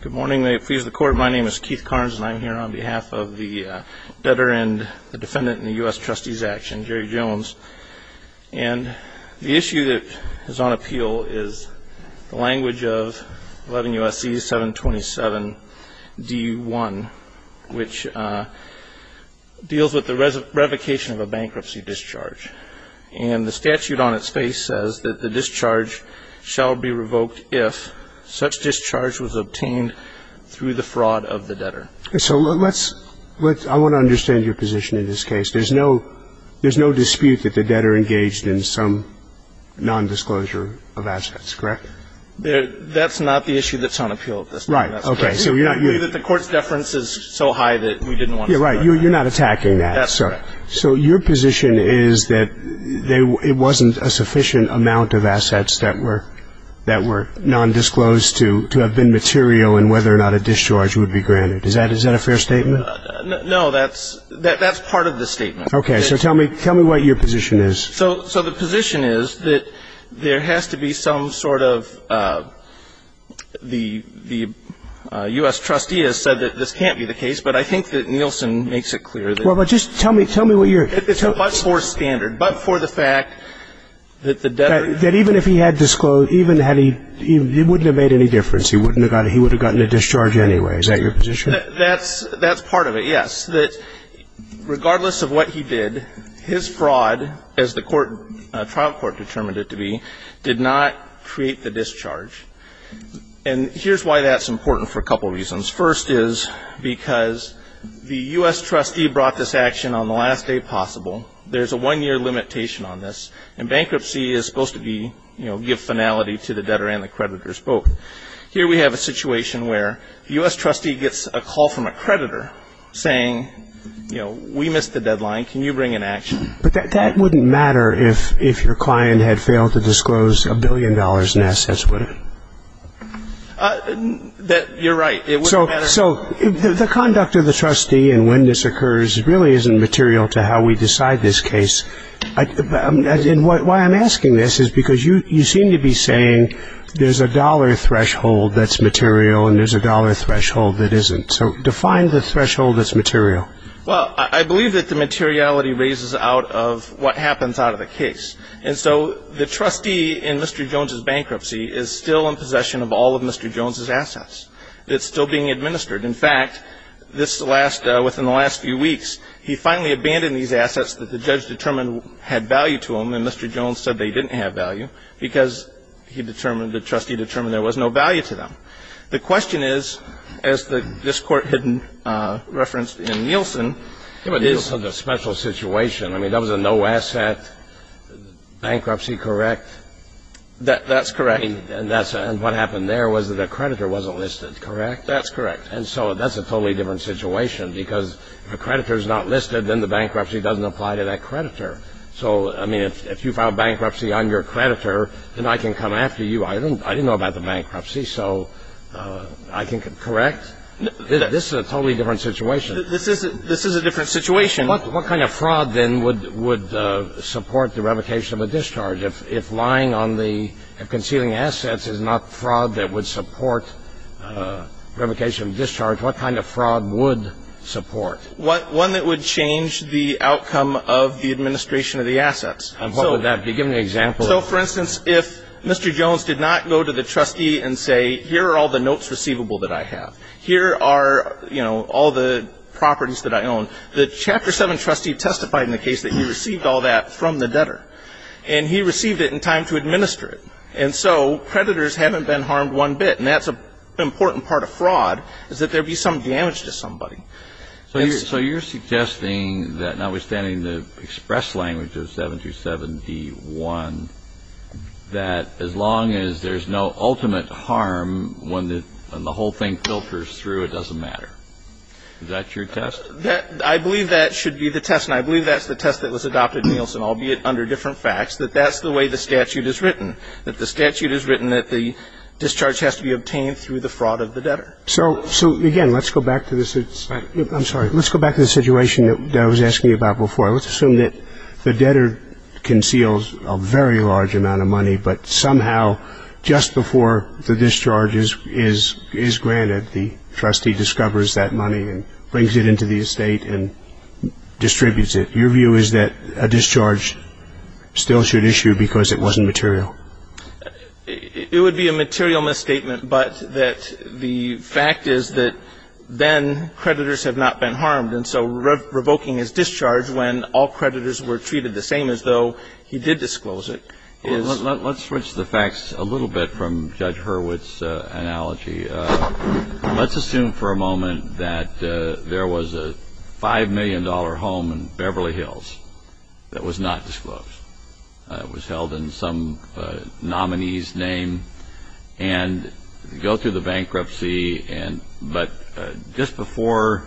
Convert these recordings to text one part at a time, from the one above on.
Good morning. May it please the Court, my name is Keith Karnes and I'm here on behalf of the veteran, the defendant in the US Trustee's action, Jerry Jones. And the issue that is on appeal is the language of 11 U.S.C. 727 D.1, which deals with the revocation of a bankruptcy discharge. And the statute on its face says that the discharge shall be revoked if such discharge was obtained through the fraud of the debtor. So let's, I want to understand your position in this case. There's no dispute that the debtor engaged in some nondisclosure of assets, correct? That's not the issue that's on appeal at this time. Right, okay, so you're not The Court's deference is so high that we didn't want to start Yeah, right, you're not attacking that That's correct So your position is that it wasn't a sufficient amount of assets that were nondisclosed to have been material and whether or not a discharge would be granted. Is that a fair statement? No, that's part of the statement Okay, so tell me what your position is So the position is that there has to be some sort of, the US Trustee has said that this can't be the case, but I think that Nielsen makes it clear that Just tell me, tell me what your It's a much more standard, but for the fact that the debtor That even if he had disclosed, even had he, it wouldn't have made any difference. He would have gotten a discharge anyway. Is that your position? That's part of it, yes. That regardless of what he did, his fraud, as the trial court determined it to be, did not create the discharge. And here's why that's important for a couple of reasons. First is because the US Trustee brought this action on the last day possible. There's a one-year limitation on this. And bankruptcy is supposed to be, you know, give finality to the debtor and the creditors both. Here we have a situation where the US Trustee gets a call from a creditor saying, you know, we missed the deadline, can you bring in action? But that wouldn't matter if your client had failed to disclose a billion dollars in assets, would it? You're right. It wouldn't matter. So the conduct of the trustee and when this occurs really isn't material to how we decide this case. And why I'm asking this is because you seem to be saying there's a dollar threshold that's material and there's a dollar threshold that isn't. So define the threshold that's material. Well, I believe that the materiality raises out of what happens out of the case. And so the trustee in Mr. Jones' bankruptcy is still in possession of all of Mr. Jones' assets. It's still being administered. In fact, this last, within the last few weeks, he finally abandoned these assets that the judge determined had value to him and Mr. Jones said they didn't have value because he determined, the trustee determined there was no value to them. The question is, as this Court had referenced in Nielsen. Yeah, but Nielsen's a special situation. I mean, that was a no-asset bankruptcy, correct? That's correct. And what happened there was that a creditor wasn't listed, correct? That's correct. And so that's a totally different situation because if a creditor's not listed, then the bankruptcy doesn't apply to that creditor. So, I mean, if you file bankruptcy on your creditor, then I can come after you. I didn't know about the bankruptcy, so I can correct? This is a totally different situation. This is a different situation. What kind of fraud, then, would support the revocation of a discharge? If lying on the, if concealing assets is not fraud that would support revocation of discharge, what kind of fraud would support? One that would change the outcome of the administration of the assets. And what would that be? Give me an example. So, for instance, if Mr. Jones did not go to the trustee and say, here are all the notes receivable that I have. Here are, you know, all the properties that I own. The Chapter 7 trustee testified in the case that he received all that from the debtor. And he received it in time to administer it. And so creditors haven't been harmed one bit. And that's an important part of fraud is that there be some damage to somebody. So you're suggesting that notwithstanding the express language of 727-D-1, that as long as there's no ultimate harm when the whole thing filters through, it doesn't matter. Is that your test? I believe that should be the test, and I believe that's the test that was adopted in Nielsen, albeit under different facts, that that's the way the statute is written, that the statute is written that the discharge has to be obtained through the fraud of the debtor. So, again, let's go back to this. I'm sorry. Let's go back to the situation that I was asking you about before. Let's assume that the debtor conceals a very large amount of money, but somehow just before the discharge is granted, the trustee discovers that money and brings it into the estate and distributes it. Your view is that a discharge still should issue because it wasn't material? It would be a material misstatement, but that the fact is that then creditors have not been harmed, and so revoking his discharge when all creditors were treated the same as though he did disclose it is. Well, let's switch the facts a little bit from Judge Hurwitz's analogy. Let's assume for a moment that there was a $5 million home in Beverly Hills that was not disclosed. It was held in some nominee's name, and you go through the bankruptcy, but just before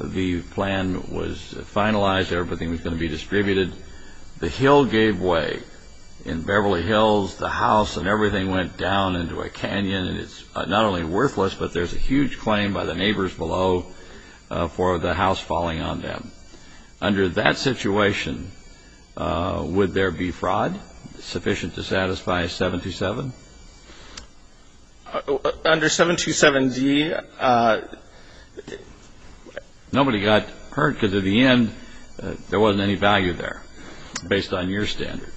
the plan was finalized, everything was going to be distributed, the hill gave way in Beverly Hills. The house and everything went down into a canyon, and it's not only worthless, but there's a huge claim by the neighbors below for the house falling on them. Under that situation, would there be fraud sufficient to satisfy 727? Under 727Z, nobody got hurt because at the end there wasn't any value there based on your standard.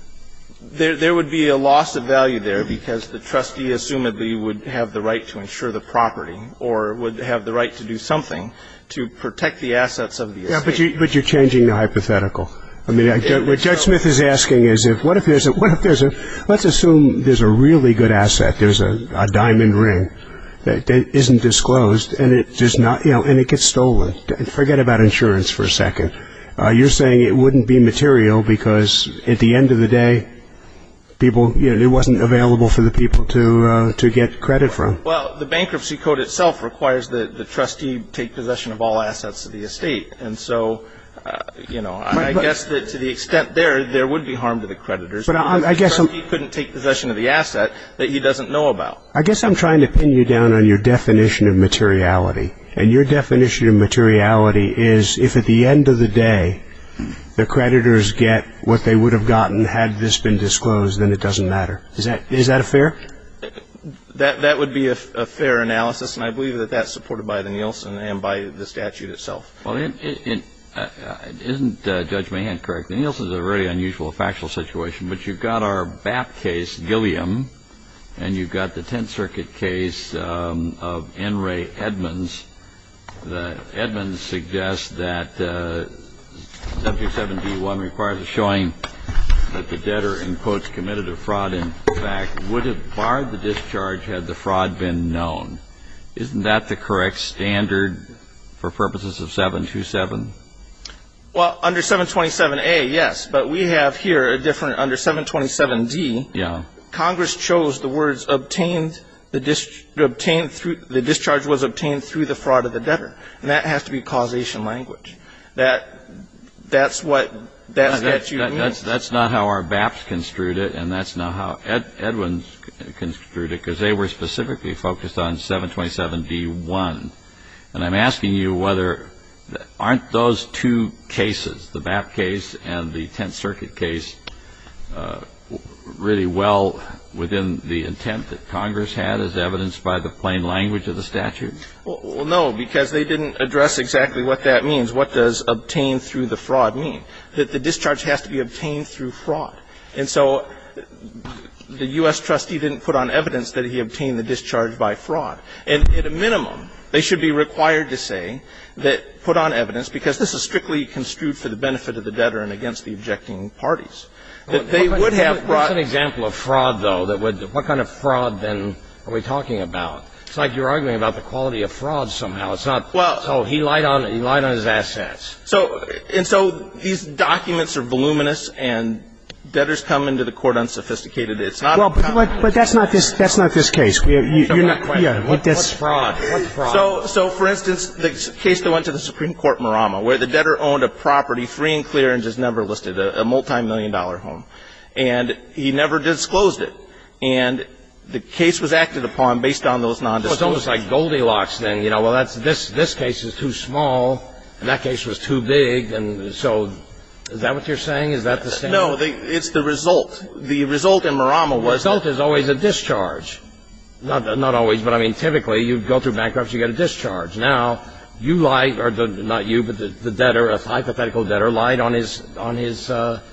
There would be a loss of value there because the trustee, assumably, would have the right to insure the property or would have the right to do something to protect the assets of the estate. But you're changing the hypothetical. What Judge Smith is asking is, let's assume there's a really good asset, there's a diamond ring that isn't disclosed, and it gets stolen. Forget about insurance for a second. You're saying it wouldn't be material because at the end of the day, it wasn't available for the people to get credit from. Well, the bankruptcy code itself requires that the trustee take possession of all assets of the estate. And so I guess that to the extent there, there would be harm to the creditors. The trustee couldn't take possession of the asset that he doesn't know about. I guess I'm trying to pin you down on your definition of materiality, and your definition of materiality is if at the end of the day, the creditors get what they would have gotten had this been disclosed, then it doesn't matter. Is that fair? That would be a fair analysis, and I believe that that's supported by the Nielsen and by the statute itself. Well, isn't Judge Mahan correct? The Nielsen is a very unusual factual situation. But you've got our BAP case, Gilliam, and you've got the Tenth Circuit case of N. Ray Edmonds. Edmonds suggests that subject 7D1 requires a showing that the debtor, in quotes, committed a fraud in fact would have barred the discharge had the fraud been known. Isn't that the correct standard for purposes of 727? Well, under 727A, yes, but we have here a different under 727D. Yeah. Congress chose the words obtained through the discharge was obtained through the fraud of the debtor, and that has to be causation language. That's what that statute means. That's not how our BAPs construed it, and that's not how Edmonds construed it, because they were specifically focused on 727D1. And I'm asking you whether aren't those two cases, the BAP case and the Tenth Circuit case, really well within the intent that Congress had as evidenced by the plain language of the statute? Well, no, because they didn't address exactly what that means, what does obtain through the fraud mean, that the discharge has to be obtained through fraud. And so the U.S. trustee didn't put on evidence that he obtained the discharge by fraud. And at a minimum, they should be required to say that, put on evidence, because this is strictly construed for the benefit of the debtor and against the objecting parties, that they would have fraud. What's an example of fraud, though? What kind of fraud, then, are we talking about? It's like you're arguing about the quality of fraud somehow. It's not, oh, he lied on his assets. And so these documents are voluminous, and debtors come into the court unsophisticated. It's not a problem. Well, but that's not this case. You're not quite there. What fraud? What fraud? So, for instance, the case that went to the Supreme Court, Murama, where the debtor owned a property free and clear and just never listed, a multimillion-dollar home, and he never disclosed it. And the case was acted upon based on those nondisclosures. Well, it's almost like Goldilocks, then. You know, well, this case is too small, and that case was too big. And so is that what you're saying? Is that the standard? No. It's the result. The result in Murama was the same. The result is always a discharge. Not always, but, I mean, typically, you go through bankruptcy, you get a discharge. Now, you lie, or not you, but the debtor, a hypothetical debtor, lied on his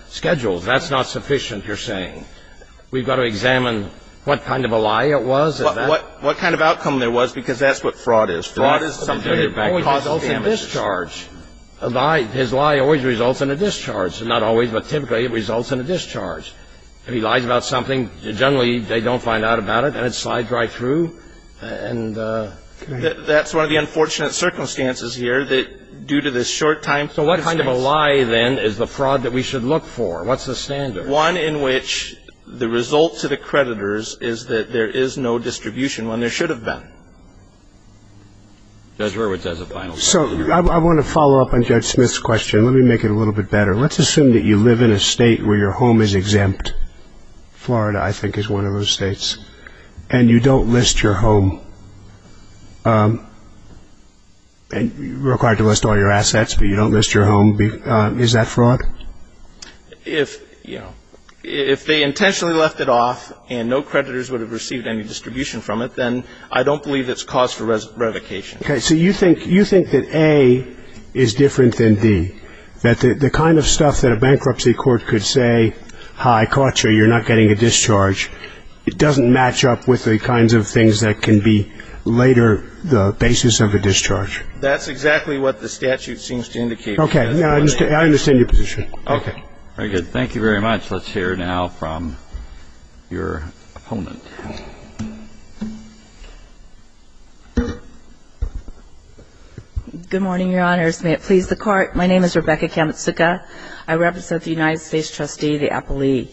schedules. That's not sufficient, you're saying. We've got to examine what kind of a lie it was. What kind of outcome there was, because that's what fraud is. Fraud is something that causes damages. Fraud always results in discharge. A lie, his lie always results in a discharge. Not always, but typically, it results in a discharge. If he lies about something, generally, they don't find out about it, and it slides right through. And that's one of the unfortunate circumstances here, that due to this short time. So what kind of a lie, then, is the fraud that we should look for? What's the standard? One in which the result to the creditors is that there is no distribution, when there should have been. Judge Hurwitz has a final comment. So I want to follow up on Judge Smith's question. Let me make it a little bit better. Let's assume that you live in a state where your home is exempt. Florida, I think, is one of those states. And you don't list your home. You're required to list all your assets, but you don't list your home. Is that fraud? If they intentionally left it off, and no creditors would have received any distribution from it, then I don't believe it's cause for revocation. Okay. So you think that A is different than D, that the kind of stuff that a bankruptcy court could say, hi, I caught you, you're not getting a discharge, it doesn't match up with the kinds of things that can be later the basis of a discharge? That's exactly what the statute seems to indicate. Okay. I understand your position. Okay. Very good. Thank you very much. Let's hear now from your opponent. Good morning, Your Honors. May it please the Court. My name is Rebecca Kamitsuka. I represent the United States trustee, the appellee.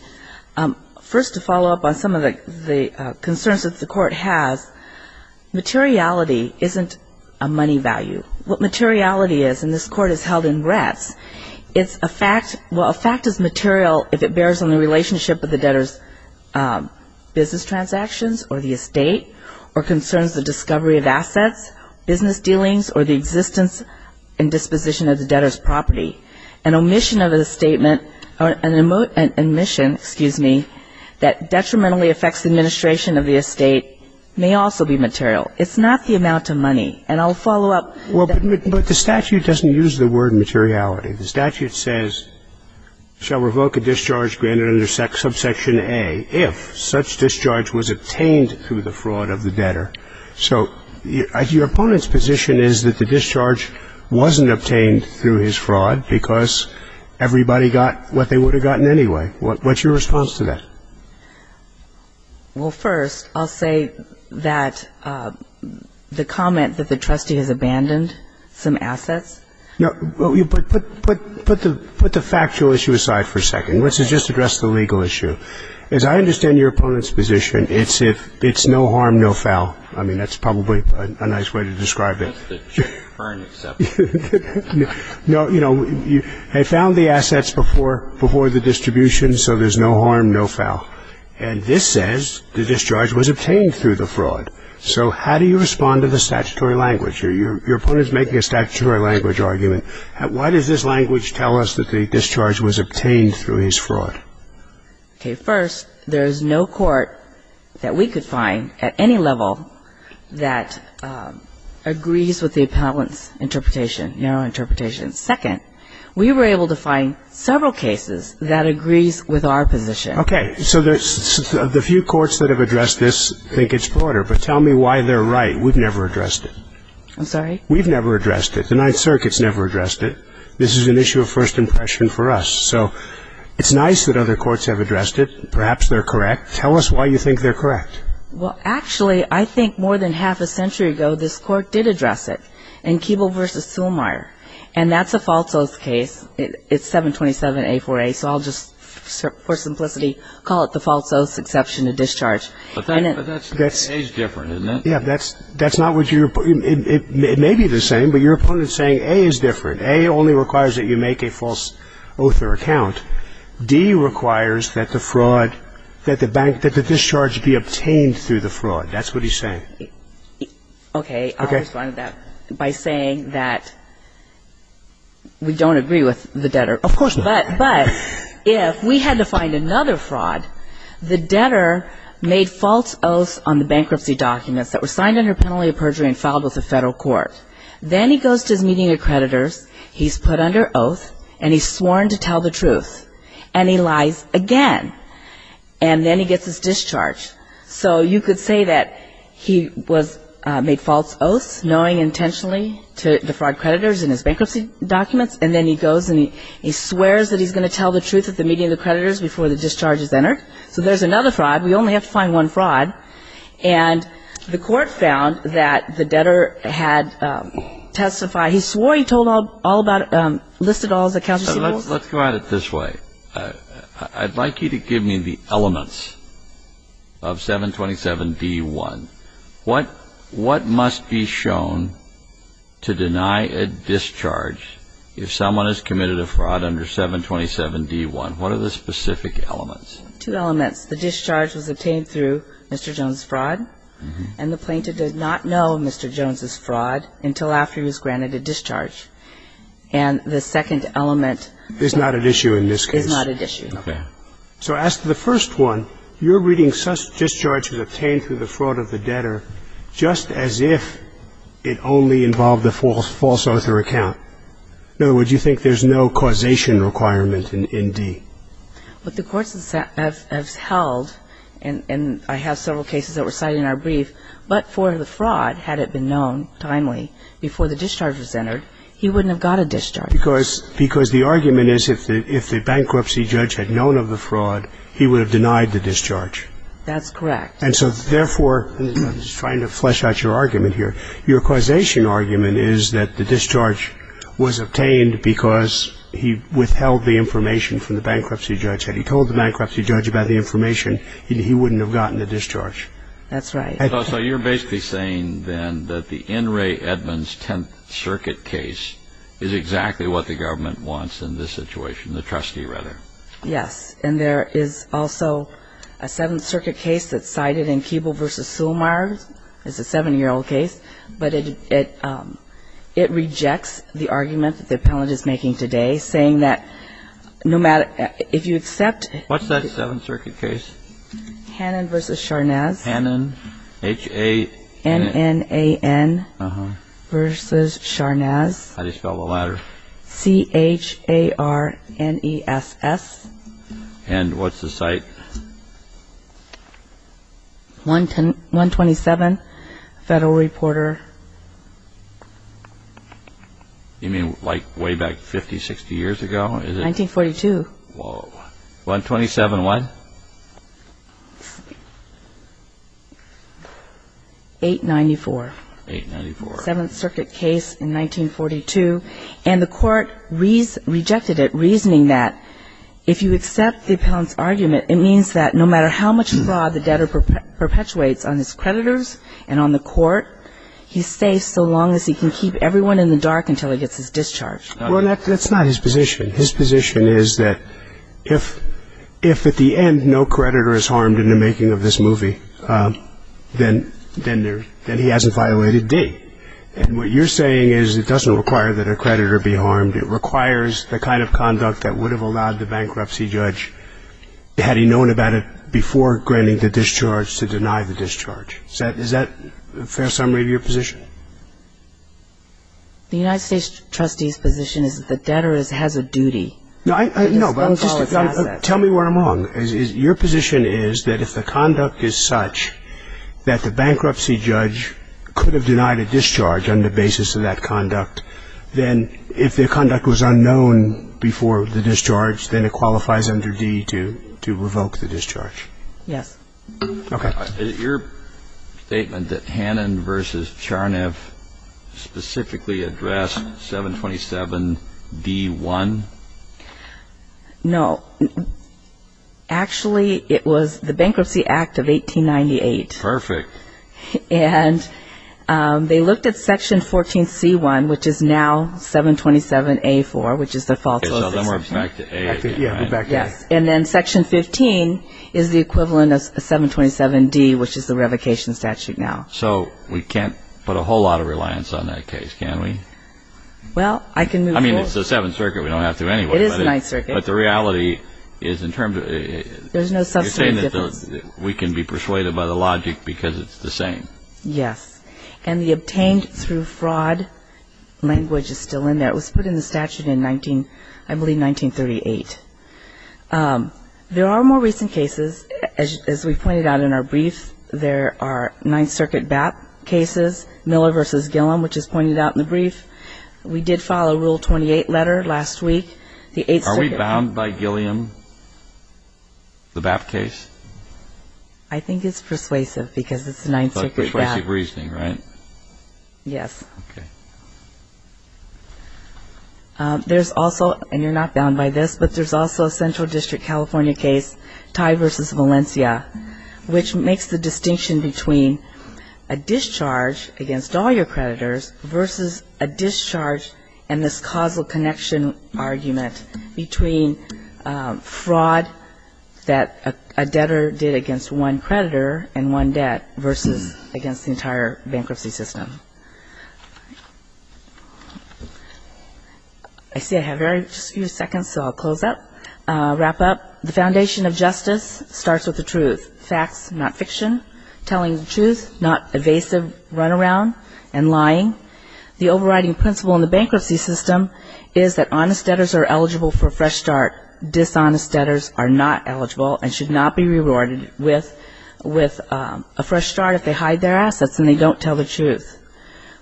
First, to follow up on some of the concerns that the Court has, materiality isn't a money value. What materiality is, and this Court has held in rest, it's a fact. Well, a fact is material if it bears on the relationship of the debtor's business transactions or the estate, or concerns the discovery of assets, business dealings, or the existence and disposition of the debtor's property. An omission of a statement, or an omission, excuse me, that detrimentally affects the administration of the estate may also be material. It's not the amount of money. And I'll follow up. Well, but the statute doesn't use the word materiality. The statute says, shall revoke a discharge granted under subsection A if such discharge was obtained through the fraud of the debtor. So your opponent's position is that the discharge wasn't obtained through his fraud because everybody got what they would have gotten anyway. What's your response to that? Well, first, I'll say that the comment that the trustee has abandoned some assets. No, but put the factual issue aside for a second. Let's just address the legal issue. As I understand your opponent's position, it's if it's no harm, no foul. I mean, that's probably a nice way to describe it. That's the Jay Fern example. No, you know, they found the assets before the distribution, so there's no harm, no foul. And this says the discharge was obtained through the fraud. So how do you respond to the statutory language? Your opponent's making a statutory language argument. Why does this language tell us that the discharge was obtained through his fraud? Okay. First, there's no court that we could find at any level that agrees with the appellant's interpretation, narrow interpretation. Second, we were able to find several cases that agrees with our position. Okay. So the few courts that have addressed this think it's broader, but tell me why they're right. We've never addressed it. I'm sorry? We've never addressed it. The Ninth Circuit's never addressed it. This is an issue of first impression for us. So it's nice that other courts have addressed it. Perhaps they're correct. Tell us why you think they're correct. Well, actually, I think more than half a century ago, this court did address it in Keeble v. Suelmeier, and that's a false oath case. It's 727A4A, so I'll just, for simplicity, call it the false oath exception to discharge. But that's a different case, isn't it? Yeah, that's not what you're – it may be the same, but your opponent is saying A is different. A only requires that you make a false oath or account. D requires that the fraud – that the discharge be obtained through the fraud. That's what he's saying. Okay. Okay. I'll respond to that by saying that we don't agree with the debtor. Of course not. But if we had to find another fraud, the debtor made false oaths on the bankruptcy documents that were signed under penalty of perjury and filed with the federal court. Then he goes to his meeting of creditors, he's put under oath, and he's sworn to tell the truth. And he lies again. And then he gets his discharge. So you could say that he was – made false oaths knowing intentionally to the fraud creditors in his bankruptcy documents. And then he goes and he swears that he's going to tell the truth at the meeting of the creditors before the discharge is entered. So there's another fraud. We only have to find one fraud. And the court found that the debtor had testified – he swore he told all about – listed all his accounts. Let's go at it this way. I'd like you to give me the elements of 727D1. What must be shown to deny a discharge if someone has committed a fraud under 727D1? What are the specific elements? Two elements. The discharge was obtained through Mr. Jones' fraud. And the plaintiff did not know Mr. Jones' fraud until after he was granted a discharge. And the second element is not at issue in this case. Is not at issue. Okay. So as to the first one, you're reading such discharge was obtained through the fraud of the debtor just as if it only involved a false oath or account. In other words, you think there's no causation requirement in D. What the courts have held, and I have several cases that were cited in our brief, but for the fraud, had it been known timely before the discharge was entered, he wouldn't have got a discharge. Because the argument is if the bankruptcy judge had known of the fraud, he would have denied the discharge. That's correct. And so, therefore, I'm just trying to flesh out your argument here. Your causation argument is that the discharge was obtained because he withheld the information from the bankruptcy judge. Had he told the bankruptcy judge about the information, he wouldn't have gotten a discharge. That's right. So you're basically saying, then, that the N. Ray Edmonds Tenth Circuit case is exactly what the government wants in this situation, the trustee, rather. Yes. And there is also a Seventh Circuit case that's cited in Keeble v. Sulmeier. It's a seven-year-old case. But it rejects the argument that the appellant is making today, saying that no matter – if you accept – What's that Seventh Circuit case? Hannon v. Charnass. How do you spell the latter? C-H-A-R-N-E-S-S. And what's the site? 127 Federal Reporter. You mean, like, way back 50, 60 years ago? 1942. Whoa. 127 what? 894. 894. Seventh Circuit case in 1942. And the Court rejected it, reasoning that if you accept the appellant's argument, it means that no matter how much fraud the debtor perpetuates on his creditors and on the Court, he's safe so long as he can keep everyone in the dark until he gets his discharge. Well, that's not his position. His position is that if at the end no creditor is harmed in the making of this movie, then he hasn't violated D. And what you're saying is it doesn't require that a creditor be harmed. It requires the kind of conduct that would have allowed the bankruptcy judge, had he known about it before granting the discharge, to deny the discharge. Is that a fair summary of your position? The United States trustee's position is that the debtor has a duty. No, I know. Tell me where I'm wrong. Your position is that if the conduct is such that the bankruptcy judge could have denied a discharge on the basis of that conduct, then if the conduct was unknown before the discharge, then it qualifies under D to revoke the discharge. Yes. Okay. Is it your statement that Hannon v. Charniff specifically addressed 727-D-1? No. Actually, it was the Bankruptcy Act of 1898. Perfect. And they looked at Section 14C-1, which is now 727-A-4, which is the false list. So then we're back to A. Yeah, we're back to A. Yes. And then Section 15 is the equivalent of 727-D, which is the revocation statute now. So we can't put a whole lot of reliance on that case, can we? Well, I can move forward. I mean, it's the Seventh Circuit. We don't have to anyway. It is the Ninth Circuit. But the reality is in terms of it. There's no substantive difference. You're saying that we can be persuaded by the logic because it's the same. Yes. And the obtained through fraud language is still in there. It was put in the statute in, I believe, 1938. There are more recent cases. As we pointed out in our brief, there are Ninth Circuit BAP cases, Miller v. Gilliam, which is pointed out in the brief. We did file a Rule 28 letter last week. Are we bound by Gilliam, the BAP case? I think it's persuasive because it's the Ninth Circuit BAP. Persuasive reasoning, right? Yes. Okay. There's also, and you're not bound by this, but there's also a Central District California case, Ty v. Valencia, which makes the distinction between a discharge against all your creditors versus a discharge and this causal connection argument between fraud that a debtor did against one creditor and one debt versus against the entire bankruptcy system. I see I have just a few seconds, so I'll close up, wrap up. The foundation of justice starts with the truth. Facts, not fiction. Telling the truth, not evasive runaround and lying. The overriding principle in the bankruptcy system is that honest debtors are eligible for a fresh start. Dishonest debtors are not eligible and should not be rewarded with a fresh start if they hide their assets and they don't tell the truth.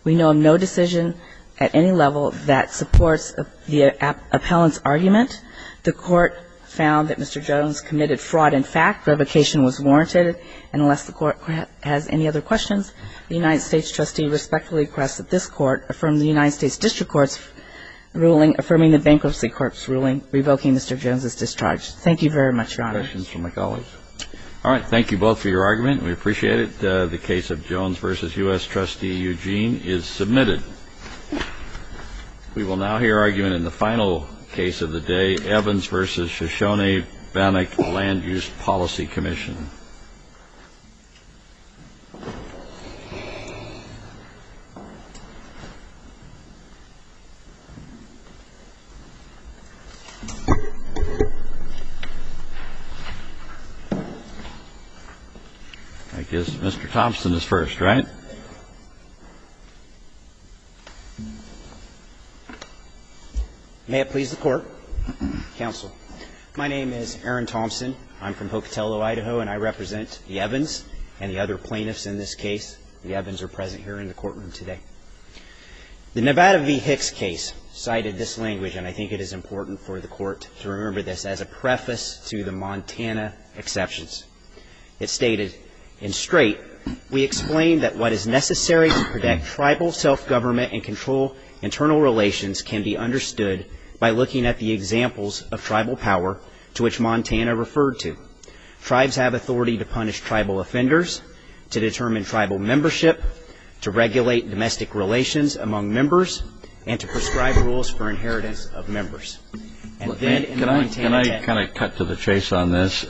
We know of no decision at any level that supports the appellant's argument. The court found that Mr. Jones committed fraud in fact, revocation was warranted, and unless the court has any other questions, the United States trustee respectfully requests that this court affirm the United States District Court's ruling affirming the bankruptcy court's ruling revoking Mr. Jones' discharge. Thank you very much, Your Honor. Questions from my colleagues? All right, thank you both for your argument. We appreciate it. The case of Jones versus U.S. trustee Eugene is submitted. We will now hear argument in the final case of the day, Evans versus Shoshone-Bennick Land Use Policy Commission. Mr. Thompson is first, right? May it please the Court. Counsel. My name is Aaron Thompson. I'm from Hokotello, Idaho, and I represent the Evans and the other plaintiffs in this case. The Evans are present here in the courtroom today. The Nevada v. Hicks case cited this language, and I think it is important for the court to remember this, as a preface to the Montana exceptions. It stated, in straight, we explain that what is necessary to protect tribal self-government and control internal relations can be understood by looking at the examples of tribal power to which Montana referred to. Tribes have authority to punish tribal offenders, to determine tribal membership, to regulate domestic relations among members, and to prescribe rules for inheritance of members. Can I cut to the chase on this?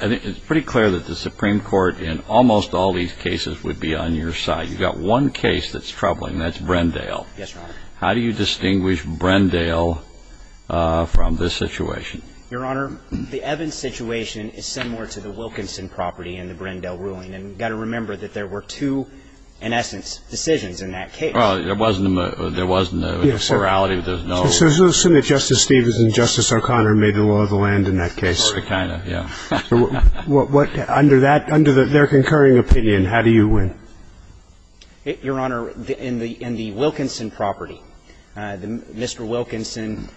It's pretty clear that the Supreme Court, in almost all these cases, would be on your side. You've got one case that's troubling, and that's Brendale. Yes, Your Honor. How do you distinguish Brendale from this situation? Your Honor, the Evans situation is similar to the Wilkinson property in the Brendale ruling, and you've got to remember that there were two, in essence, decisions in that case. Well, there wasn't a morality. There's no assumption that Justice Stevens and Justice O'Connor made the law of the land in that case. Sort of, kind of, yeah. Under their concurring opinion, how do you win? Your Honor, in the Wilkinson property, Mr. Wilkinson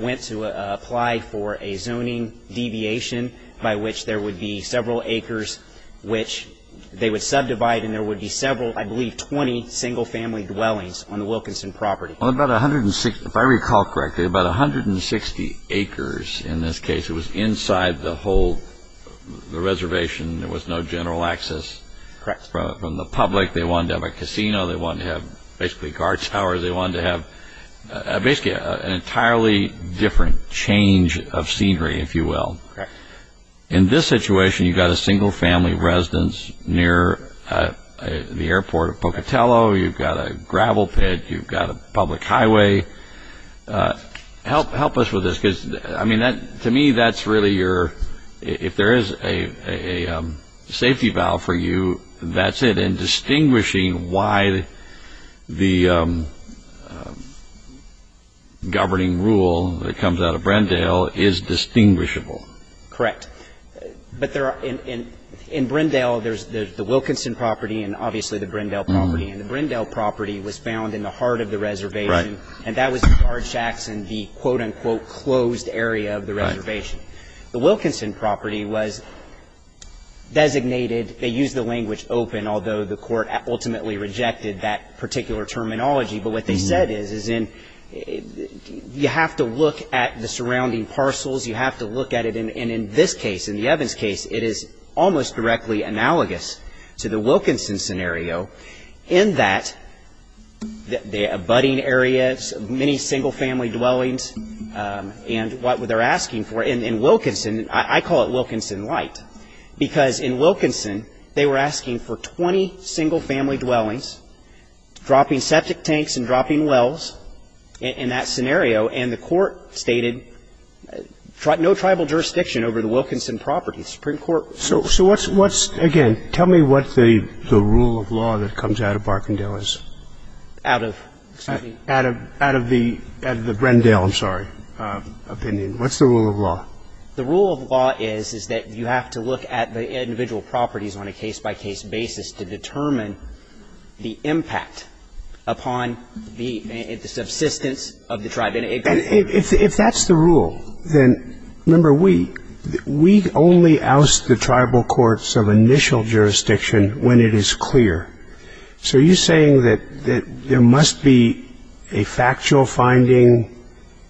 went to apply for a zoning deviation by which there would be several acres, which they would subdivide, and there would be several, I believe, 20 single-family dwellings on the Wilkinson property. About 160, if I recall correctly, about 160 acres in this case. It was inside the whole reservation. There was no general access. Correct. From the public, they wanted to have a casino. They wanted to have, basically, guard towers. They wanted to have, basically, an entirely different change of scenery, if you will. Correct. In this situation, you've got a single-family residence near the airport of Pocatello. You've got a gravel pit. You've got a public highway. Help us with this, because, I mean, to me, that's really your, if there is a safety valve for you, that's it, and distinguishing why the governing rule that comes out of Brindale is distinguishable. Correct. But there are – in Brindale, there's the Wilkinson property and, obviously, the Brindale property. And the Brindale property was found in the heart of the reservation. Right. And that was the guard shacks and the, quote, unquote, closed area of the reservation. Right. The Wilkinson property was designated – they used the language open, although the court ultimately rejected that particular terminology. But what they said is, you have to look at the surrounding parcels. You have to look at it. And in this case, in the Evans case, it is almost directly analogous to the Wilkinson scenario in that the abutting areas, many single-family dwellings, and what they're asking for. In Wilkinson, I call it Wilkinson light, because in Wilkinson, they were asking for 20 single-family dwellings, dropping septic tanks and dropping wells in that scenario. And the court stated no tribal jurisdiction over the Wilkinson property. The Supreme Court – So what's – again, tell me what the rule of law that comes out of Barkindale is. Out of – excuse me. Out of the – out of the Brindale, I'm sorry, opinion. What's the rule of law? The rule of law is, is that you have to look at the individual properties on a case-by-case basis to determine the impact upon the subsistence of the tribe. And if that's the rule, then, remember, we – we only oust the tribal courts of initial jurisdiction when it is clear. So are you saying that there must be a factual finding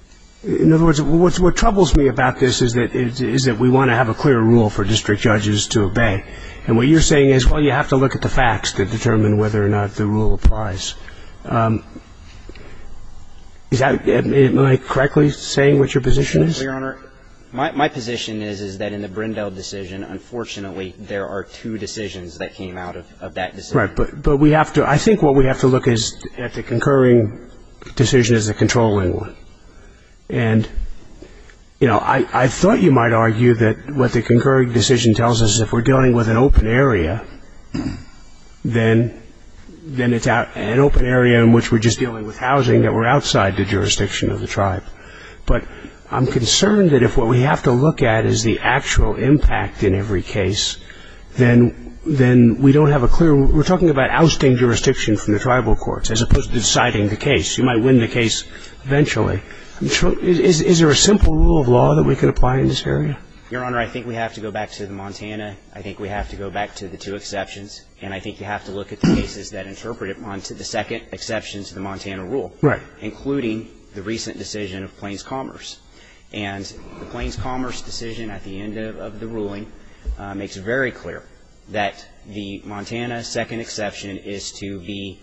– in other words, what troubles me about this is that we want to have a clear rule for district judges to obey. And what you're saying is, well, you have to look at the facts to determine whether or not the rule applies. Is that – am I correctly saying what your position is? Well, Your Honor, my position is, is that in the Brindale decision, unfortunately there are two decisions that came out of that decision. Right. But we have to – I think what we have to look is at the concurring decision as a controlling one. And, you know, I thought you might argue that what the concurring decision tells us, if we're dealing with an open area, then it's an open area in which we're just dealing with housing, that we're outside the jurisdiction of the tribe. But I'm concerned that if what we have to look at is the actual impact in every case, then we don't have a clear – we're talking about ousting jurisdiction from the tribal courts as opposed to deciding the case. You might win the case eventually. Is there a simple rule of law that we can apply in this area? Your Honor, I think we have to go back to the Montana. I think we have to go back to the two exceptions. And I think you have to look at the cases that interpret it onto the second exception to the Montana rule. Right. Including the recent decision of Plains Commerce. And the Plains Commerce decision at the end of the ruling makes very clear that the Montana second exception is to be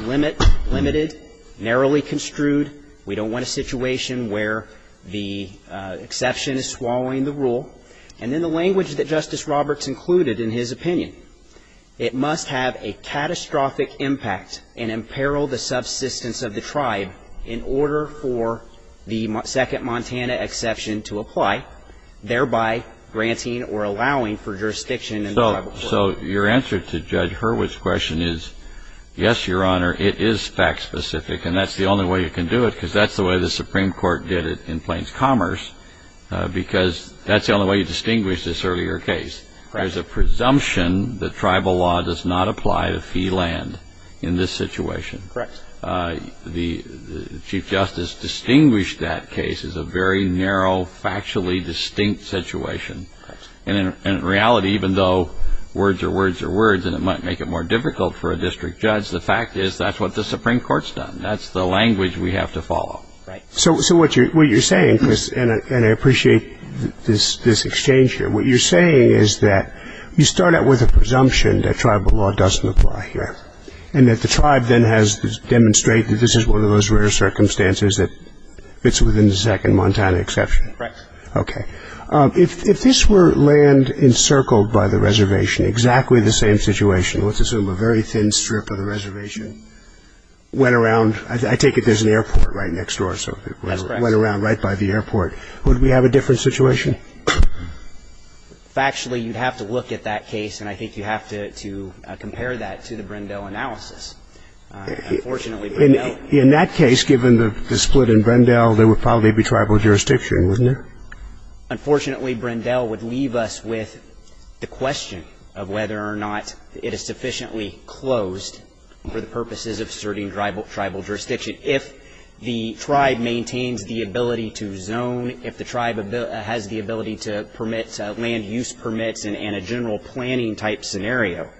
limited, narrowly construed. We don't want a situation where the exception is swallowing the rule. And in the language that Justice Roberts included in his opinion, it must have a catastrophic impact and imperil the subsistence of the tribe in order for the second Montana exception to apply, thereby granting or allowing for jurisdiction in the tribal courts. So your answer to Judge Hurwitz's question is, yes, Your Honor, it is fact specific. And that's the only way you can do it because that's the way the Supreme Court did it in Plains Commerce because that's the only way you distinguish this earlier case. There's a presumption that tribal law does not apply to fee land in this situation. Correct. The Chief Justice distinguished that case as a very narrow, factually distinct situation. And in reality, even though words are words are words and it might make it more difficult for a district judge, the fact is that's what the Supreme Court's done. That's the language we have to follow. Right. So what you're saying, Chris, and I appreciate this exchange here, what you're saying is that you start out with a presumption that tribal law doesn't apply here and that the tribe then has to demonstrate that this is one of those rare circumstances that it's within the second Montana exception. Correct. Okay. If this were land encircled by the reservation, exactly the same situation, let's assume a very thin strip of the reservation, went around. I take it there's an airport right next door. That's correct. So it went around right by the airport. Would we have a different situation? Factually, you'd have to look at that case, and I think you have to compare that to the Brendel analysis. Unfortunately, Brendel. In that case, given the split in Brendel, there would probably be tribal jurisdiction, wouldn't there? Unfortunately, Brendel would leave us with the question of whether or not it is sufficiently closed for the purposes of asserting tribal jurisdiction. If the tribe maintains the ability to zone, if the tribe has the ability to permit land use permits and a general planning type scenario,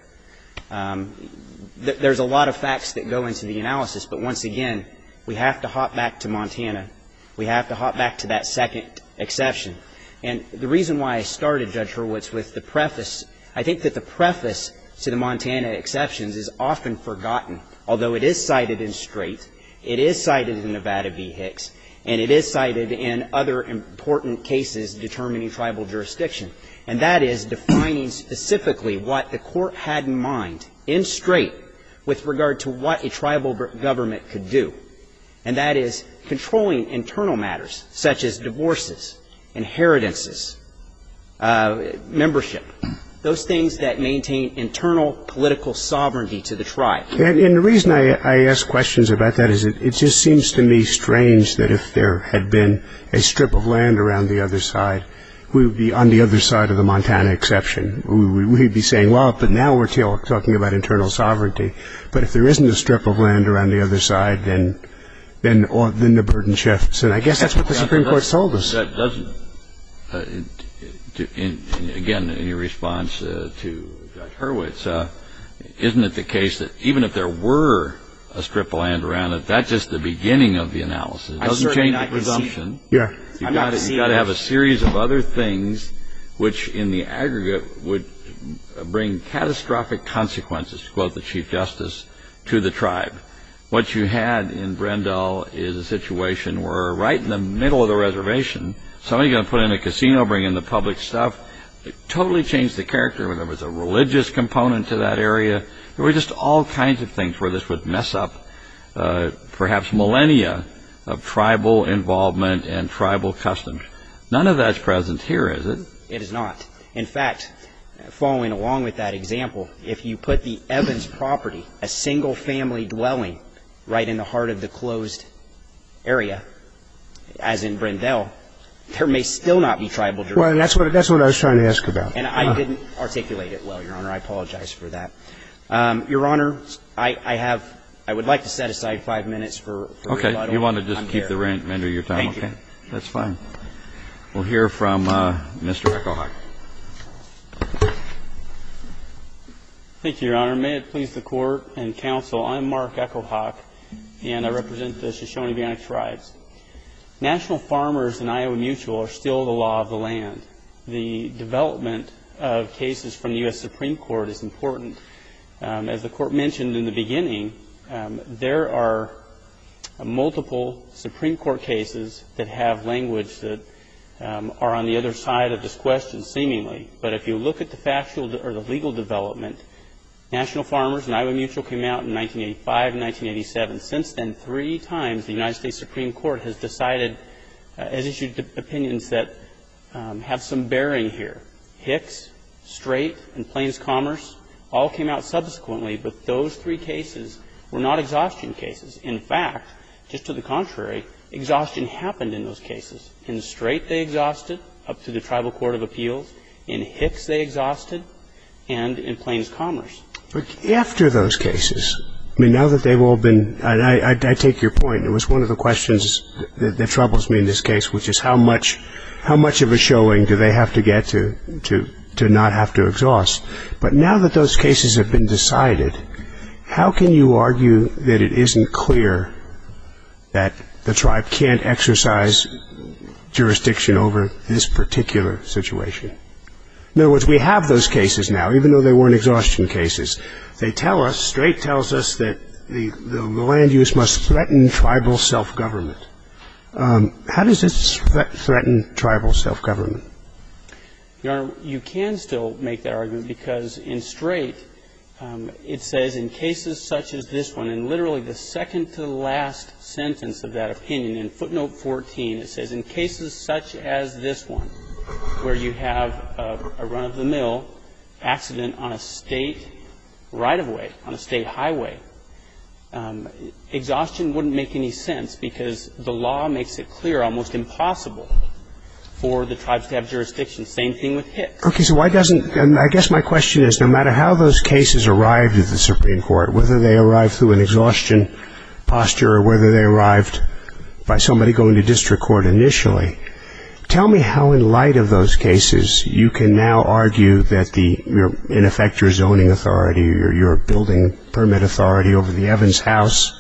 there's a lot of facts that go into the analysis. But once again, we have to hop back to Montana. We have to hop back to that second exception. And the reason why I started, Judge Hurwitz, with the preface, I think that the preface to the Montana exceptions is often forgotten. Although it is cited in Strait, it is cited in Nevada v. Hicks, and it is cited in other important cases determining tribal jurisdiction. And that is defining specifically what the court had in mind in Strait with regard to what a tribal government could do. And that is controlling internal matters such as divorces, inheritances, membership, those things that maintain internal political sovereignty to the tribe. And the reason I ask questions about that is it just seems to me strange that if there had been a strip of land around the other side, we would be on the other side of the Montana exception. We would be saying, well, but now we're talking about internal sovereignty. But if there isn't a strip of land around the other side, then the burden shifts. And I guess that's what the Supreme Court has told us. Again, in your response to Judge Hurwitz, isn't it the case that even if there were a strip of land around it, that's just the beginning of the analysis? It doesn't change the presumption. You've got to have a series of other things which in the aggregate would bring catastrophic consequences, to quote the Chief Justice, to the tribe. What you had in Brendel is a situation where right in the middle of the reservation, somebody's going to put in a casino, bring in the public stuff. It totally changed the character. There was a religious component to that area. There were just all kinds of things where this would mess up perhaps millennia of tribal involvement and tribal customs. None of that's present here, is it? It is not. In fact, following along with that example, if you put the Evans property, a single family dwelling right in the heart of the closed area, as in Brendel, there may still not be tribal jurisdiction. Well, that's what I was trying to ask about. And I didn't articulate it well, Your Honor. I apologize for that. Your Honor, I would like to set aside five minutes for rebuttal. Okay. If you want to just keep the remainder of your time, okay. Thank you. That's fine. We'll hear from Mr. Echohawk. Thank you, Your Honor. May it please the Court and counsel, I'm Mark Echohawk, and I represent the Shoshone-Bionic tribes. National farmers and Iowa Mutual are still the law of the land. The development of cases from the U.S. Supreme Court is important. As the Court mentioned in the beginning, there are multiple Supreme Court cases that have language that are on the other side of this question, seemingly. But if you look at the factual or the legal development, National Farmers and Iowa Mutual came out in 1985 and 1987. Since then, three times the United States Supreme Court has decided, has issued opinions that have some bearing here. Hicks, Strait, and Plains Commerce all came out subsequently. But those three cases were not exhaustion cases. In fact, just to the contrary, exhaustion happened in those cases. In Strait, they exhausted up to the Tribal Court of Appeals. In Hicks, they exhausted. And in Plains Commerce. After those cases, now that they've all been, and I take your point, it was one of the questions that troubles me in this case, which is how much of a showing do they have to get to not have to exhaust? But now that those cases have been decided, how can you argue that it isn't clear that the tribe can't exercise jurisdiction over this particular situation? In other words, we have those cases now, even though they weren't exhaustion cases. They tell us, Strait tells us that the land use must threaten tribal self-government. How does this threaten tribal self-government? Your Honor, you can still make that argument because in Strait, it says, in cases such as this one, and literally the second to the last sentence of that opinion, in footnote 14, it says, in cases such as this one, where you have a run-of-the-mill accident on a State right-of-way, on a State highway, exhaustion wouldn't make any sense because the law makes it clear, almost impossible for the tribes to have jurisdiction. Same thing with Hicks. Okay. So why doesn't, and I guess my question is, no matter how those cases arrived at the Supreme Court, whether they arrived through an exhaustion posture or whether they arrived by somebody going to district court initially, tell me how, in light of those cases, you can now argue that the, in effect, your zoning authority or your building permit authority over the Evans House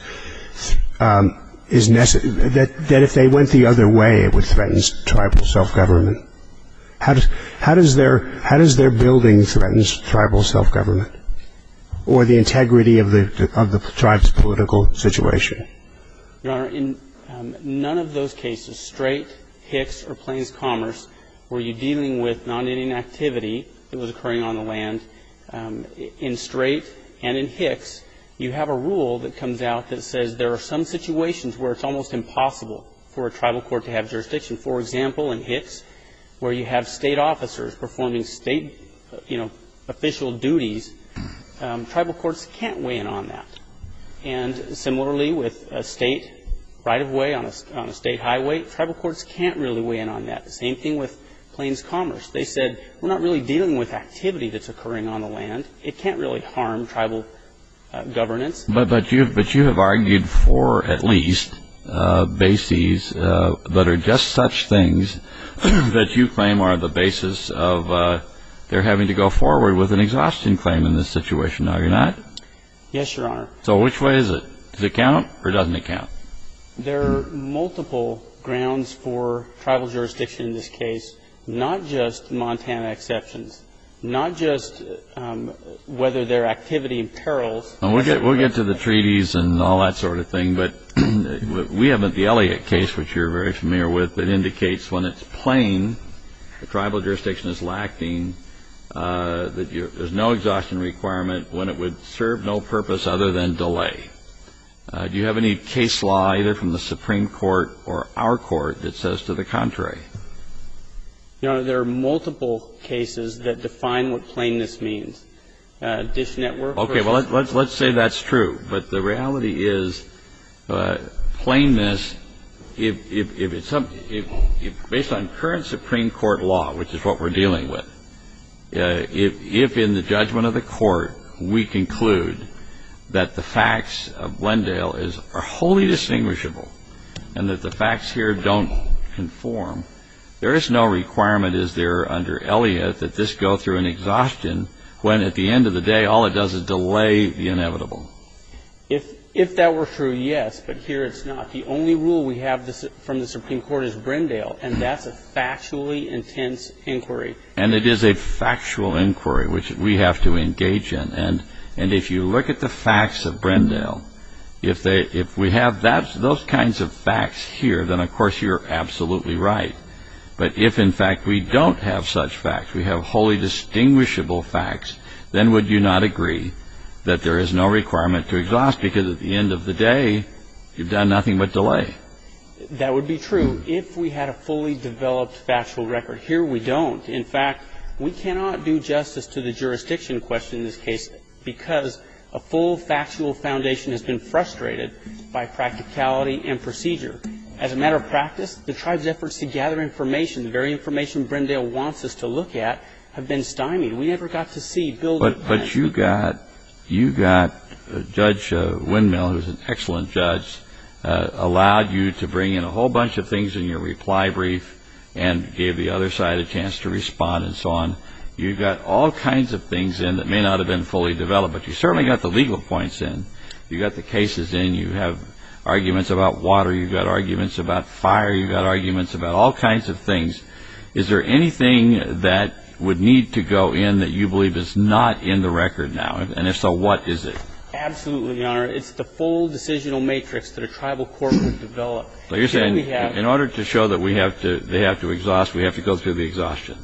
is, that if they went the other way, it would threaten tribal self-government. How does their building threaten tribal self-government? Or the integrity of the tribe's political situation? Your Honor, in none of those cases, Strait, Hicks, or Plains Commerce, were you dealing with non-Indian activity that was occurring on the land. In Strait and in Hicks, you have a rule that comes out that says there are some situations where it's almost impossible for a tribal court to have jurisdiction. For example, in Hicks, where you have State officers performing State, you know, official duties, tribal courts can't weigh in on that. And similarly, with a State right-of-way on a State highway, tribal courts can't really weigh in on that. The same thing with Plains Commerce. They said, we're not really dealing with activity that's occurring on the land. It can't really harm tribal governance. But you have argued for, at least, bases that are just such things that you claim are the basis of their having to go forward with an exhaustion claim in this situation. Now, you're not? Yes, Your Honor. So which way is it? Does it count or doesn't it count? There are multiple grounds for tribal jurisdiction in this case, not just Montana exceptions, not just whether they're activity in perils. We'll get to the treaties and all that sort of thing. But we have the Elliott case, which you're very familiar with, that indicates when it's plain, the tribal jurisdiction is lacking, that there's no exhaustion requirement, when it would serve no purpose other than delay. Do you have any case law, either from the Supreme Court or our court, that says to the contrary? Your Honor, there are multiple cases that define what plainness means. Okay, well, let's say that's true. But the reality is plainness, based on current Supreme Court law, which is what we're dealing with, if in the judgment of the court we conclude that the facts of Glendale are wholly distinguishable and that the facts here don't conform, there is no requirement, is there, under Elliott, that this go through an exhaustion when at the end of the day all it does is delay the inevitable? If that were true, yes, but here it's not. The only rule we have from the Supreme Court is Glendale, and that's a factually intense inquiry. And it is a factual inquiry, which we have to engage in. And if you look at the facts of Glendale, if we have those kinds of facts here, then, of course, you're absolutely right. But if, in fact, we don't have such facts, we have wholly distinguishable facts, then would you not agree that there is no requirement to exhaust, because at the end of the day you've done nothing but delay? That would be true if we had a fully developed factual record. Here we don't. In fact, we cannot do justice to the jurisdiction question in this case, because a full factual foundation has been frustrated by practicality and procedure. As a matter of practice, the tribe's efforts to gather information, the very information Glendale wants us to look at, have been stymied. We never got to see building plans. But you got Judge Windmill, who's an excellent judge, allowed you to bring in a whole bunch of things in your reply brief and gave the other side a chance to respond and so on. You got all kinds of things in that may not have been fully developed, but you certainly got the legal points in. You got the cases in. You have arguments about water. You've got arguments about fire. You've got arguments about all kinds of things. Is there anything that would need to go in that you believe is not in the record now? And if so, what is it? Absolutely, Your Honor. It's the full decisional matrix that a tribal court would develop. But you're saying in order to show that they have to exhaust, we have to go through the exhaustion?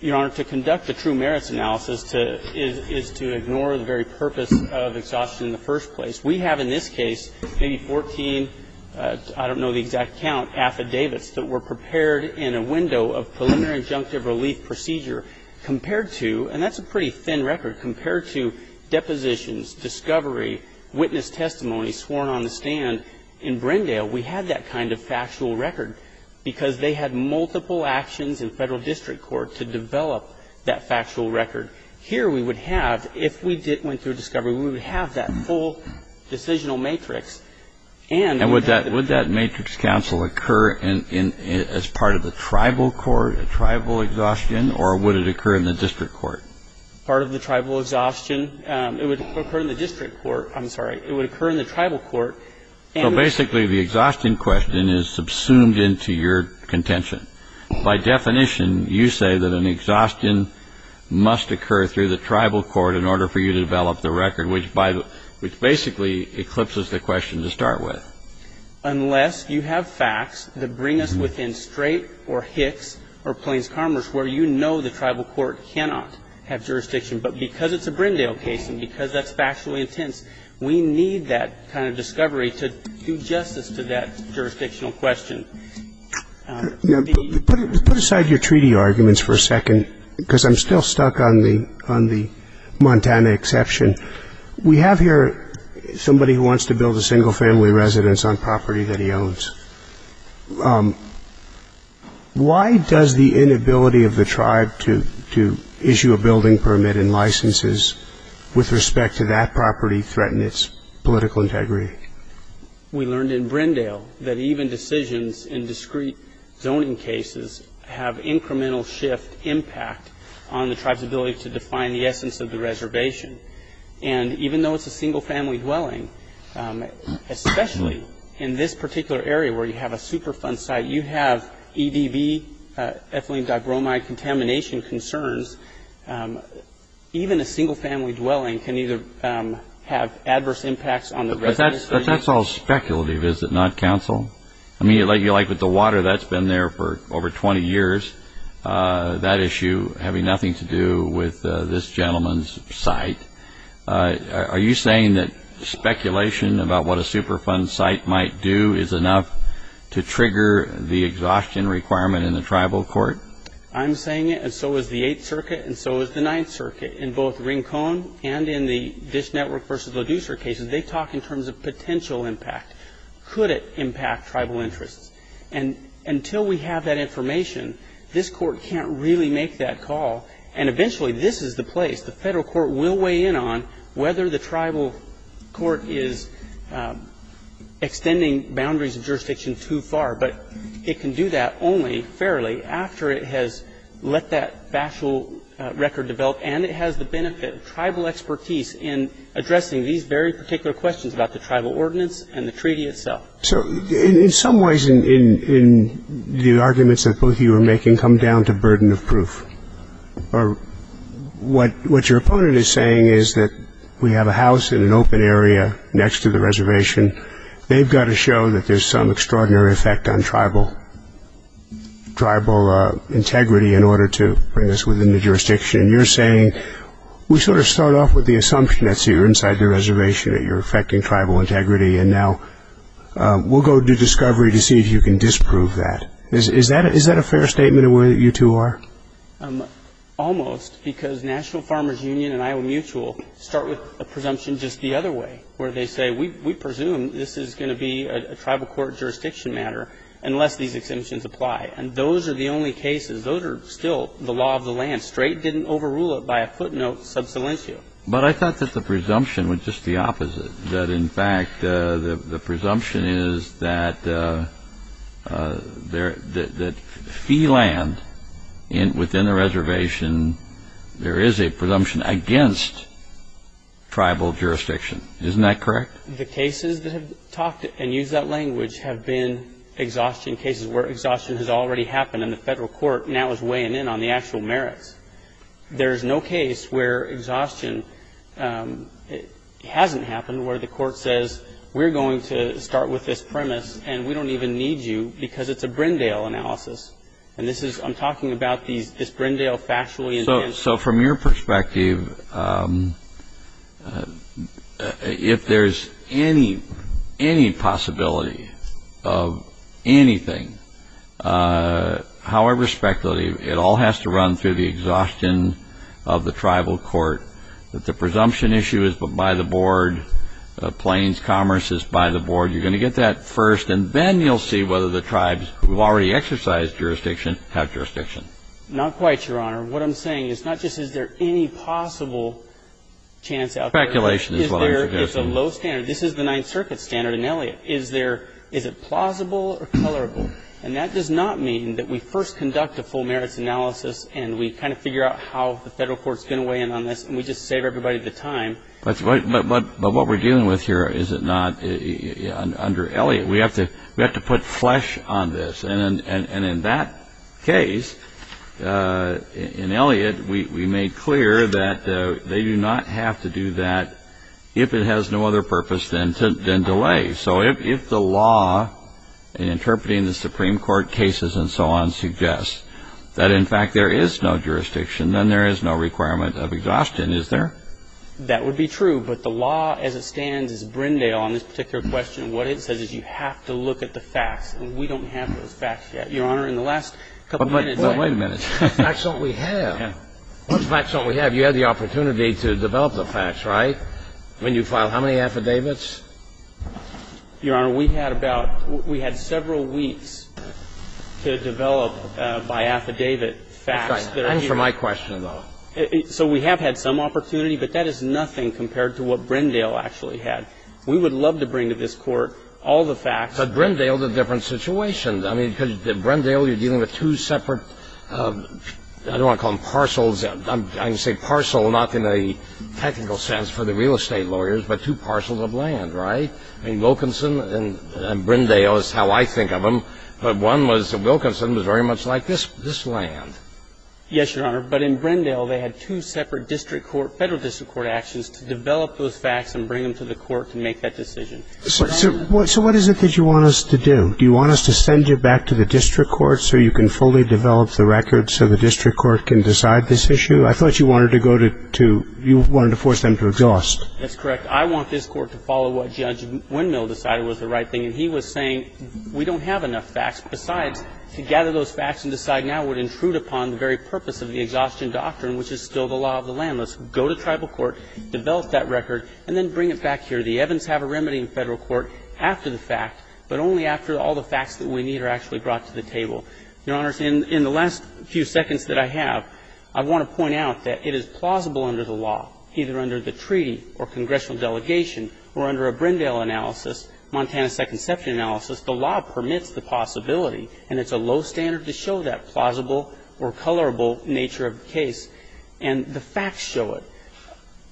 Your Honor, to conduct a true merits analysis is to ignore the very purpose of exhaustion in the first place. We have in this case maybe 14, I don't know the exact count, affidavits that were prepared in a window of preliminary injunctive relief procedure compared to, and that's a pretty thin record, compared to depositions, discovery, witness testimony sworn on the stand. In Brindale, we had that kind of factual record because they had multiple actions in federal district court to develop that factual record. Here we would have, if we went through discovery, we would have that full decisional matrix. And would that matrix counsel occur as part of the tribal court, a tribal exhaustion, or would it occur in the district court? Part of the tribal exhaustion. It would occur in the district court. I'm sorry. It would occur in the tribal court. So basically the exhaustion question is subsumed into your contention. By definition, you say that an exhaustion must occur through the tribal court in order for you to develop the record, which basically eclipses the question to start with. Unless you have facts that bring us within Strait or Hicks or Plains Commerce, where you know the tribal court cannot have jurisdiction. But because it's a Brindale case and because that's factually intense, we need that kind of discovery to do justice to that jurisdictional question. Put aside your treaty arguments for a second, because I'm still stuck on the Montana exception. We have here somebody who wants to build a single-family residence on property that he owns. Why does the inability of the tribe to issue a building permit and licenses with respect to that property threaten its political integrity? We learned in Brindale that even decisions in discrete zoning cases have incremental shift impact on the tribe's ability to define the essence of the reservation. And even though it's a single-family dwelling, especially in this particular area where you have a Superfund site, you have EDV, ethylene digromide contamination concerns. Even a single-family dwelling can either have adverse impacts on the residence. But that's all speculative, is it not, counsel? I mean, like with the water, that's been there for over 20 years, that issue having nothing to do with this gentleman's site. Are you saying that speculation about what a Superfund site might do is enough to trigger the exhaustion requirement in the tribal court? I'm saying it, and so is the Eighth Circuit, and so is the Ninth Circuit. In both Rincon and in the Dish Network v. LaDucer cases, they talk in terms of potential impact. Could it impact tribal interests? And until we have that information, this Court can't really make that call. And eventually, this is the place the federal court will weigh in on whether the tribal court is extending boundaries of jurisdiction too far. But it can do that only fairly after it has let that factual record develop and it has the benefit of tribal expertise in addressing these very particular questions about the tribal ordinance and the treaty itself. So in some ways, the arguments that both of you are making come down to burden of proof. What your opponent is saying is that we have a house in an open area next to the reservation. They've got to show that there's some extraordinary effect on tribal integrity in order to bring us within the jurisdiction. And you're saying we sort of start off with the assumption that you're inside the reservation, that you're affecting tribal integrity, and now we'll go do discovery to see if you can disprove that. Is that a fair statement in the way that you two are? Almost, because National Farmers Union and Iowa Mutual start with a presumption just the other way, where they say we presume this is going to be a tribal court jurisdiction matter unless these exemptions apply. And those are the only cases. Those are still the law of the land. Strait didn't overrule it by a footnote sub silentio. But I thought that the presumption was just the opposite, that in fact the presumption is that fee land within the reservation, there is a presumption against tribal jurisdiction. Isn't that correct? The cases that have talked and used that language have been exhaustion cases where exhaustion has already happened and the federal court now is weighing in on the actual merits. There's no case where exhaustion hasn't happened where the court says we're going to start with this premise and we don't even need you because it's a Brindale analysis. And this is, I'm talking about this Brindale factually. So from your perspective, if there's any possibility of anything, however speculative, it all has to run through the exhaustion of the tribal court, that the presumption issue is by the board, plains commerce is by the board. You're going to get that first. And then you'll see whether the tribes who have already exercised jurisdiction have jurisdiction. Not quite, Your Honor. What I'm saying is not just is there any possible chance out there. Speculation is what I'm suggesting. It's a low standard. This is the Ninth Circuit standard in Elliott. Is it plausible or colorable? And that does not mean that we first conduct a full merits analysis and we kind of figure out how the federal court is going to weigh in on this and we just save everybody the time. But what we're dealing with here is it not under Elliott. We have to put flesh on this. And in that case, in Elliott, we made clear that they do not have to do that if it has no other purpose than delay. So if the law in interpreting the Supreme Court cases and so on suggests that, in fact, there is no jurisdiction, then there is no requirement of exhaustion. Is there? That would be true. But the law as it stands is Brindale on this particular question. What it says is you have to look at the facts. And we don't have those facts yet. Your Honor, in the last couple of minutes we have. Well, wait a minute. What facts don't we have? What facts don't we have? You had the opportunity to develop the facts, right, when you filed how many affidavits? Your Honor, we had about we had several weeks to develop by affidavit facts that are here. And for my question, though. So we have had some opportunity, but that is nothing compared to what Brindale actually had. We would love to bring to this Court all the facts. But Brindale is a different situation. I mean, because Brindale, you're dealing with two separate, I don't want to call them parcels. I can say parcel not in a technical sense for the real estate lawyers, but two parcels of land, right? I mean, Wilkinson and Brindale is how I think of them. But one was Wilkinson was very much like this land. Yes, Your Honor. But in Brindale they had two separate district court, federal district court actions to develop those facts and bring them to the Court to make that decision. So what is it that you want us to do? Do you want us to send you back to the district court so you can fully develop the records so the district court can decide this issue? I thought you wanted to go to you wanted to force them to exhaust. That's correct. I want this Court to follow what Judge Windmill decided was the right thing. And he was saying we don't have enough facts. Besides, to gather those facts and decide now would intrude upon the very purpose of the exhaustion doctrine, which is still the law of the land. Let's go to tribal court, develop that record, and then bring it back here. The evidence have a remedy in federal court after the fact, but only after all the facts that we need are actually brought to the table. Your Honors, in the last few seconds that I have, I want to point out that it is plausible under the law, either under the treaty or congressional delegation or under a Brindale analysis, Montana Second Session analysis, the law permits the possibility. And it's a low standard to show that plausible or colorable nature of the case. And the facts show it.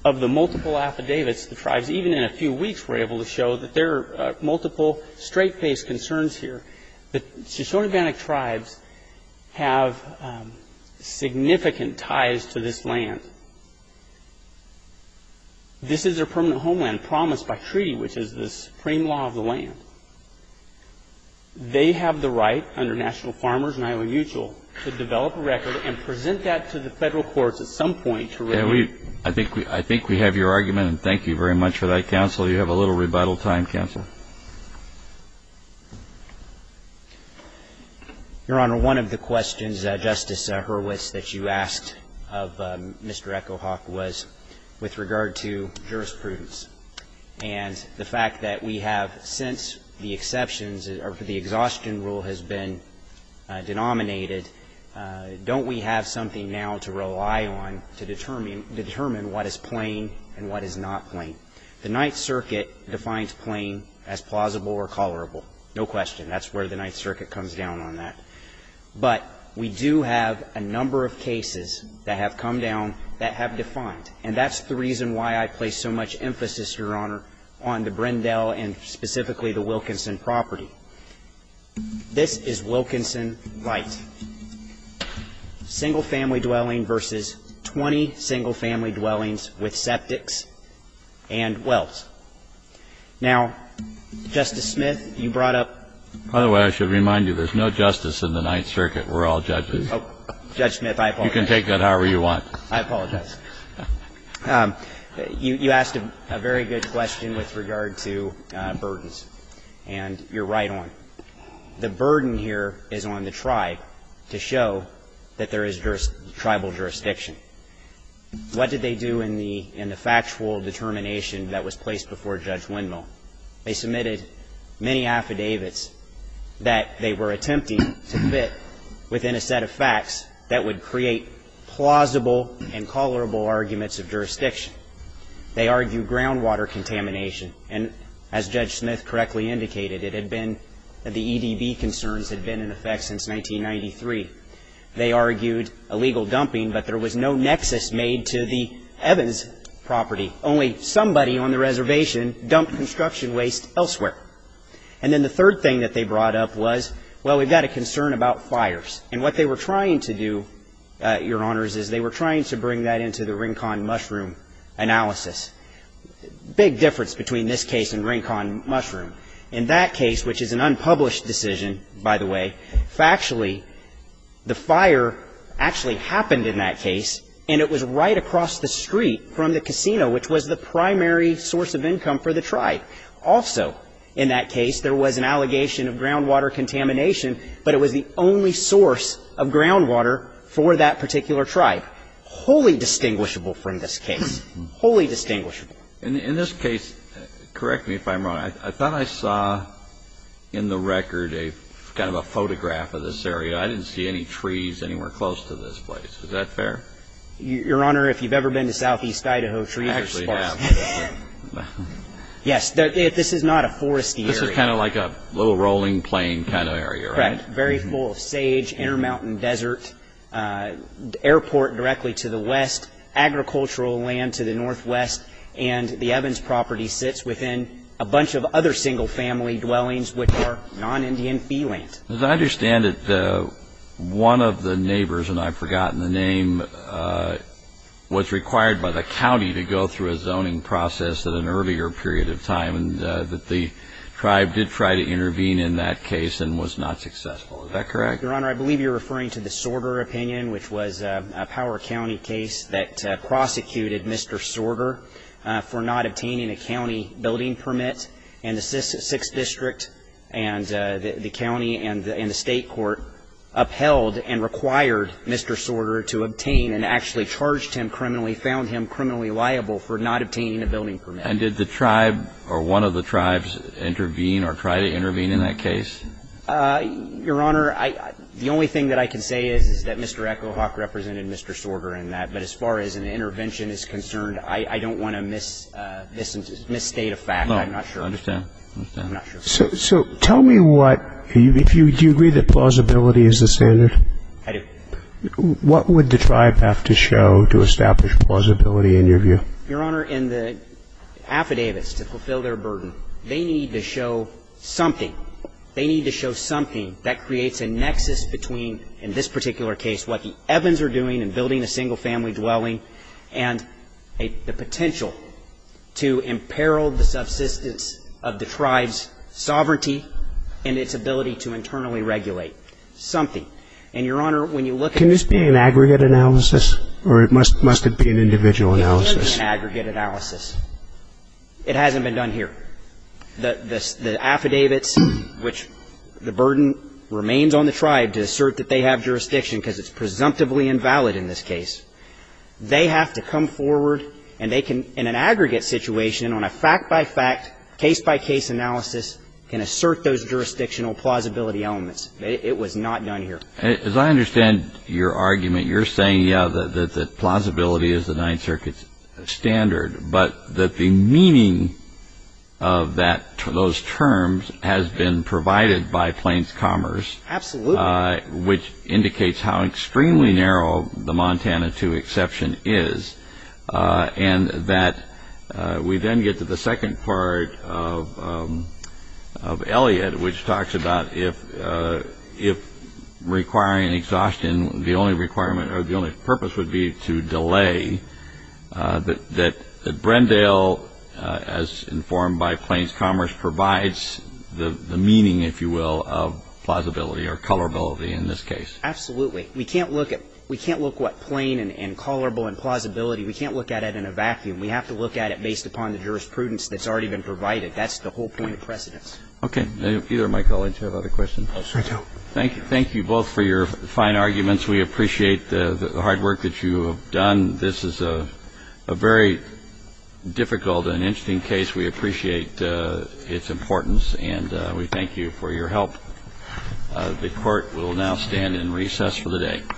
Of the multiple affidavits, the tribes, even in a few weeks, were able to show that there are multiple straight-faced concerns here. The Shoshone-Urbanic tribes have significant ties to this land. This is their permanent homeland, promised by treaty, which is the supreme law of the land. They have the right, under National Farmers and Island Mutual, to develop a record and present that to the Federal courts at some point to review. I think we have your argument, and thank you very much for that, counsel. You have a little rebuttal time, counsel. Your Honor, one of the questions, Justice Hurwitz, that you asked of Mr. Echo Hawk was with regard to jurisprudence. And the fact that we have, since the exceptions or the exhaustion rule has been denominated, don't we have something now to rely on to determine what is plain and what is not plain? The Ninth Circuit defines plain as plausible or colorable. No question. That's where the Ninth Circuit comes down on that. But we do have a number of cases that have come down that have defined. And that's the reason why I place so much emphasis, Your Honor, on the Brindell and specifically the Wilkinson property. This is Wilkinson right. Single-family dwelling versus 20 single-family dwellings with septics and wells. Now, Justice Smith, you brought up — By the way, I should remind you, there's no justice in the Ninth Circuit. We're all judges. Judge Smith, I apologize. You can take that however you want. I apologize. You asked a very good question with regard to burdens. And you're right on. The burden here is on the tribe to show that there is tribal jurisdiction. What did they do in the factual determination that was placed before Judge Windmill? They submitted many affidavits that they were attempting to fit within a set of facts that would create plausible and colorable arguments of jurisdiction. They argued groundwater contamination. And as Judge Smith correctly indicated, it had been — the EDB concerns had been in effect since 1993. They argued illegal dumping, but there was no nexus made to the Evans property. Only somebody on the reservation dumped construction waste elsewhere. And then the third thing that they brought up was, well, we've got a concern about fires. And what they were trying to do, Your Honors, is they were trying to bring that into the Rincon Mushroom analysis. Big difference between this case and Rincon Mushroom. In that case, which is an unpublished decision, by the way, factually, the fire actually happened in that case, and it was right across the street from the casino, which was the primary source of income for the tribe. Also in that case, there was an allegation of groundwater contamination, but it was the only source of groundwater for that particular tribe. Wholly distinguishable from this case. Wholly distinguishable. In this case, correct me if I'm wrong, I thought I saw in the record a kind of a photograph of this area. I didn't see any trees anywhere close to this place. Is that fair? Your Honor, if you've ever been to southeast Idaho, trees are a spot. I actually have. Yes. This is kind of like a little rolling plain kind of area, right? Correct. Very full of sage, intermountain desert, airport directly to the west, agricultural land to the northwest, and the Evans property sits within a bunch of other single-family dwellings, which are non-Indian fee land. As I understand it, one of the neighbors, and I've forgotten the name, was required by the county to go through a zoning process at an earlier period of time, and that the tribe did try to intervene in that case and was not successful. Is that correct? Your Honor, I believe you're referring to the Sorter opinion, which was a Power County case that prosecuted Mr. Sorter for not obtaining a county building permit, and the sixth district and the county and the state court upheld and required Mr. Sorter to obtain and actually charged him criminally, found him criminally liable for not obtaining a building permit. And did the tribe or one of the tribes intervene or try to intervene in that case? Your Honor, the only thing that I can say is that Mr. Echo Hawk represented Mr. Sorter in that, but as far as an intervention is concerned, I don't want to misstate a fact. I'm not sure. I understand. I'm not sure. So tell me what, do you agree that plausibility is the standard? I do. What would the tribe have to show to establish plausibility in your view? Your Honor, in the affidavits to fulfill their burden, they need to show something. They need to show something that creates a nexus between, in this particular case, what the Evans are doing in building a single-family dwelling and the potential to imperil the subsistence of the tribe's sovereignty and its ability to internally regulate, something. And, Your Honor, when you look at the ---- Can this be an aggregate analysis, or must it be an individual analysis? It can be an aggregate analysis. It hasn't been done here. The affidavits, which the burden remains on the tribe to assert that they have jurisdiction because it's presumptively invalid in this case, they have to come forward and they can, in an aggregate situation, on a fact-by-fact, case-by-case analysis, can assert those jurisdictional plausibility elements. It was not done here. As I understand your argument, you're saying, yeah, that plausibility is the Ninth Circuit standard, but that the meaning of those terms has been provided by Plains Commerce, which indicates how extremely narrow the Montana II exception is, and that we then get to the exhaustion. The only requirement or the only purpose would be to delay that Brendale, as informed by Plains Commerce, provides the meaning, if you will, of plausibility or colorability in this case. Absolutely. We can't look at what plain and colorable and plausibility. We can't look at it in a vacuum. We have to look at it based upon the jurisprudence that's already been provided. That's the whole point of precedence. Okay. Either of my colleagues have other questions? I do. Thank you both for your fine arguments. We appreciate the hard work that you have done. This is a very difficult and interesting case. We appreciate its importance, and we thank you for your help. The Court will now stand in recess for the day.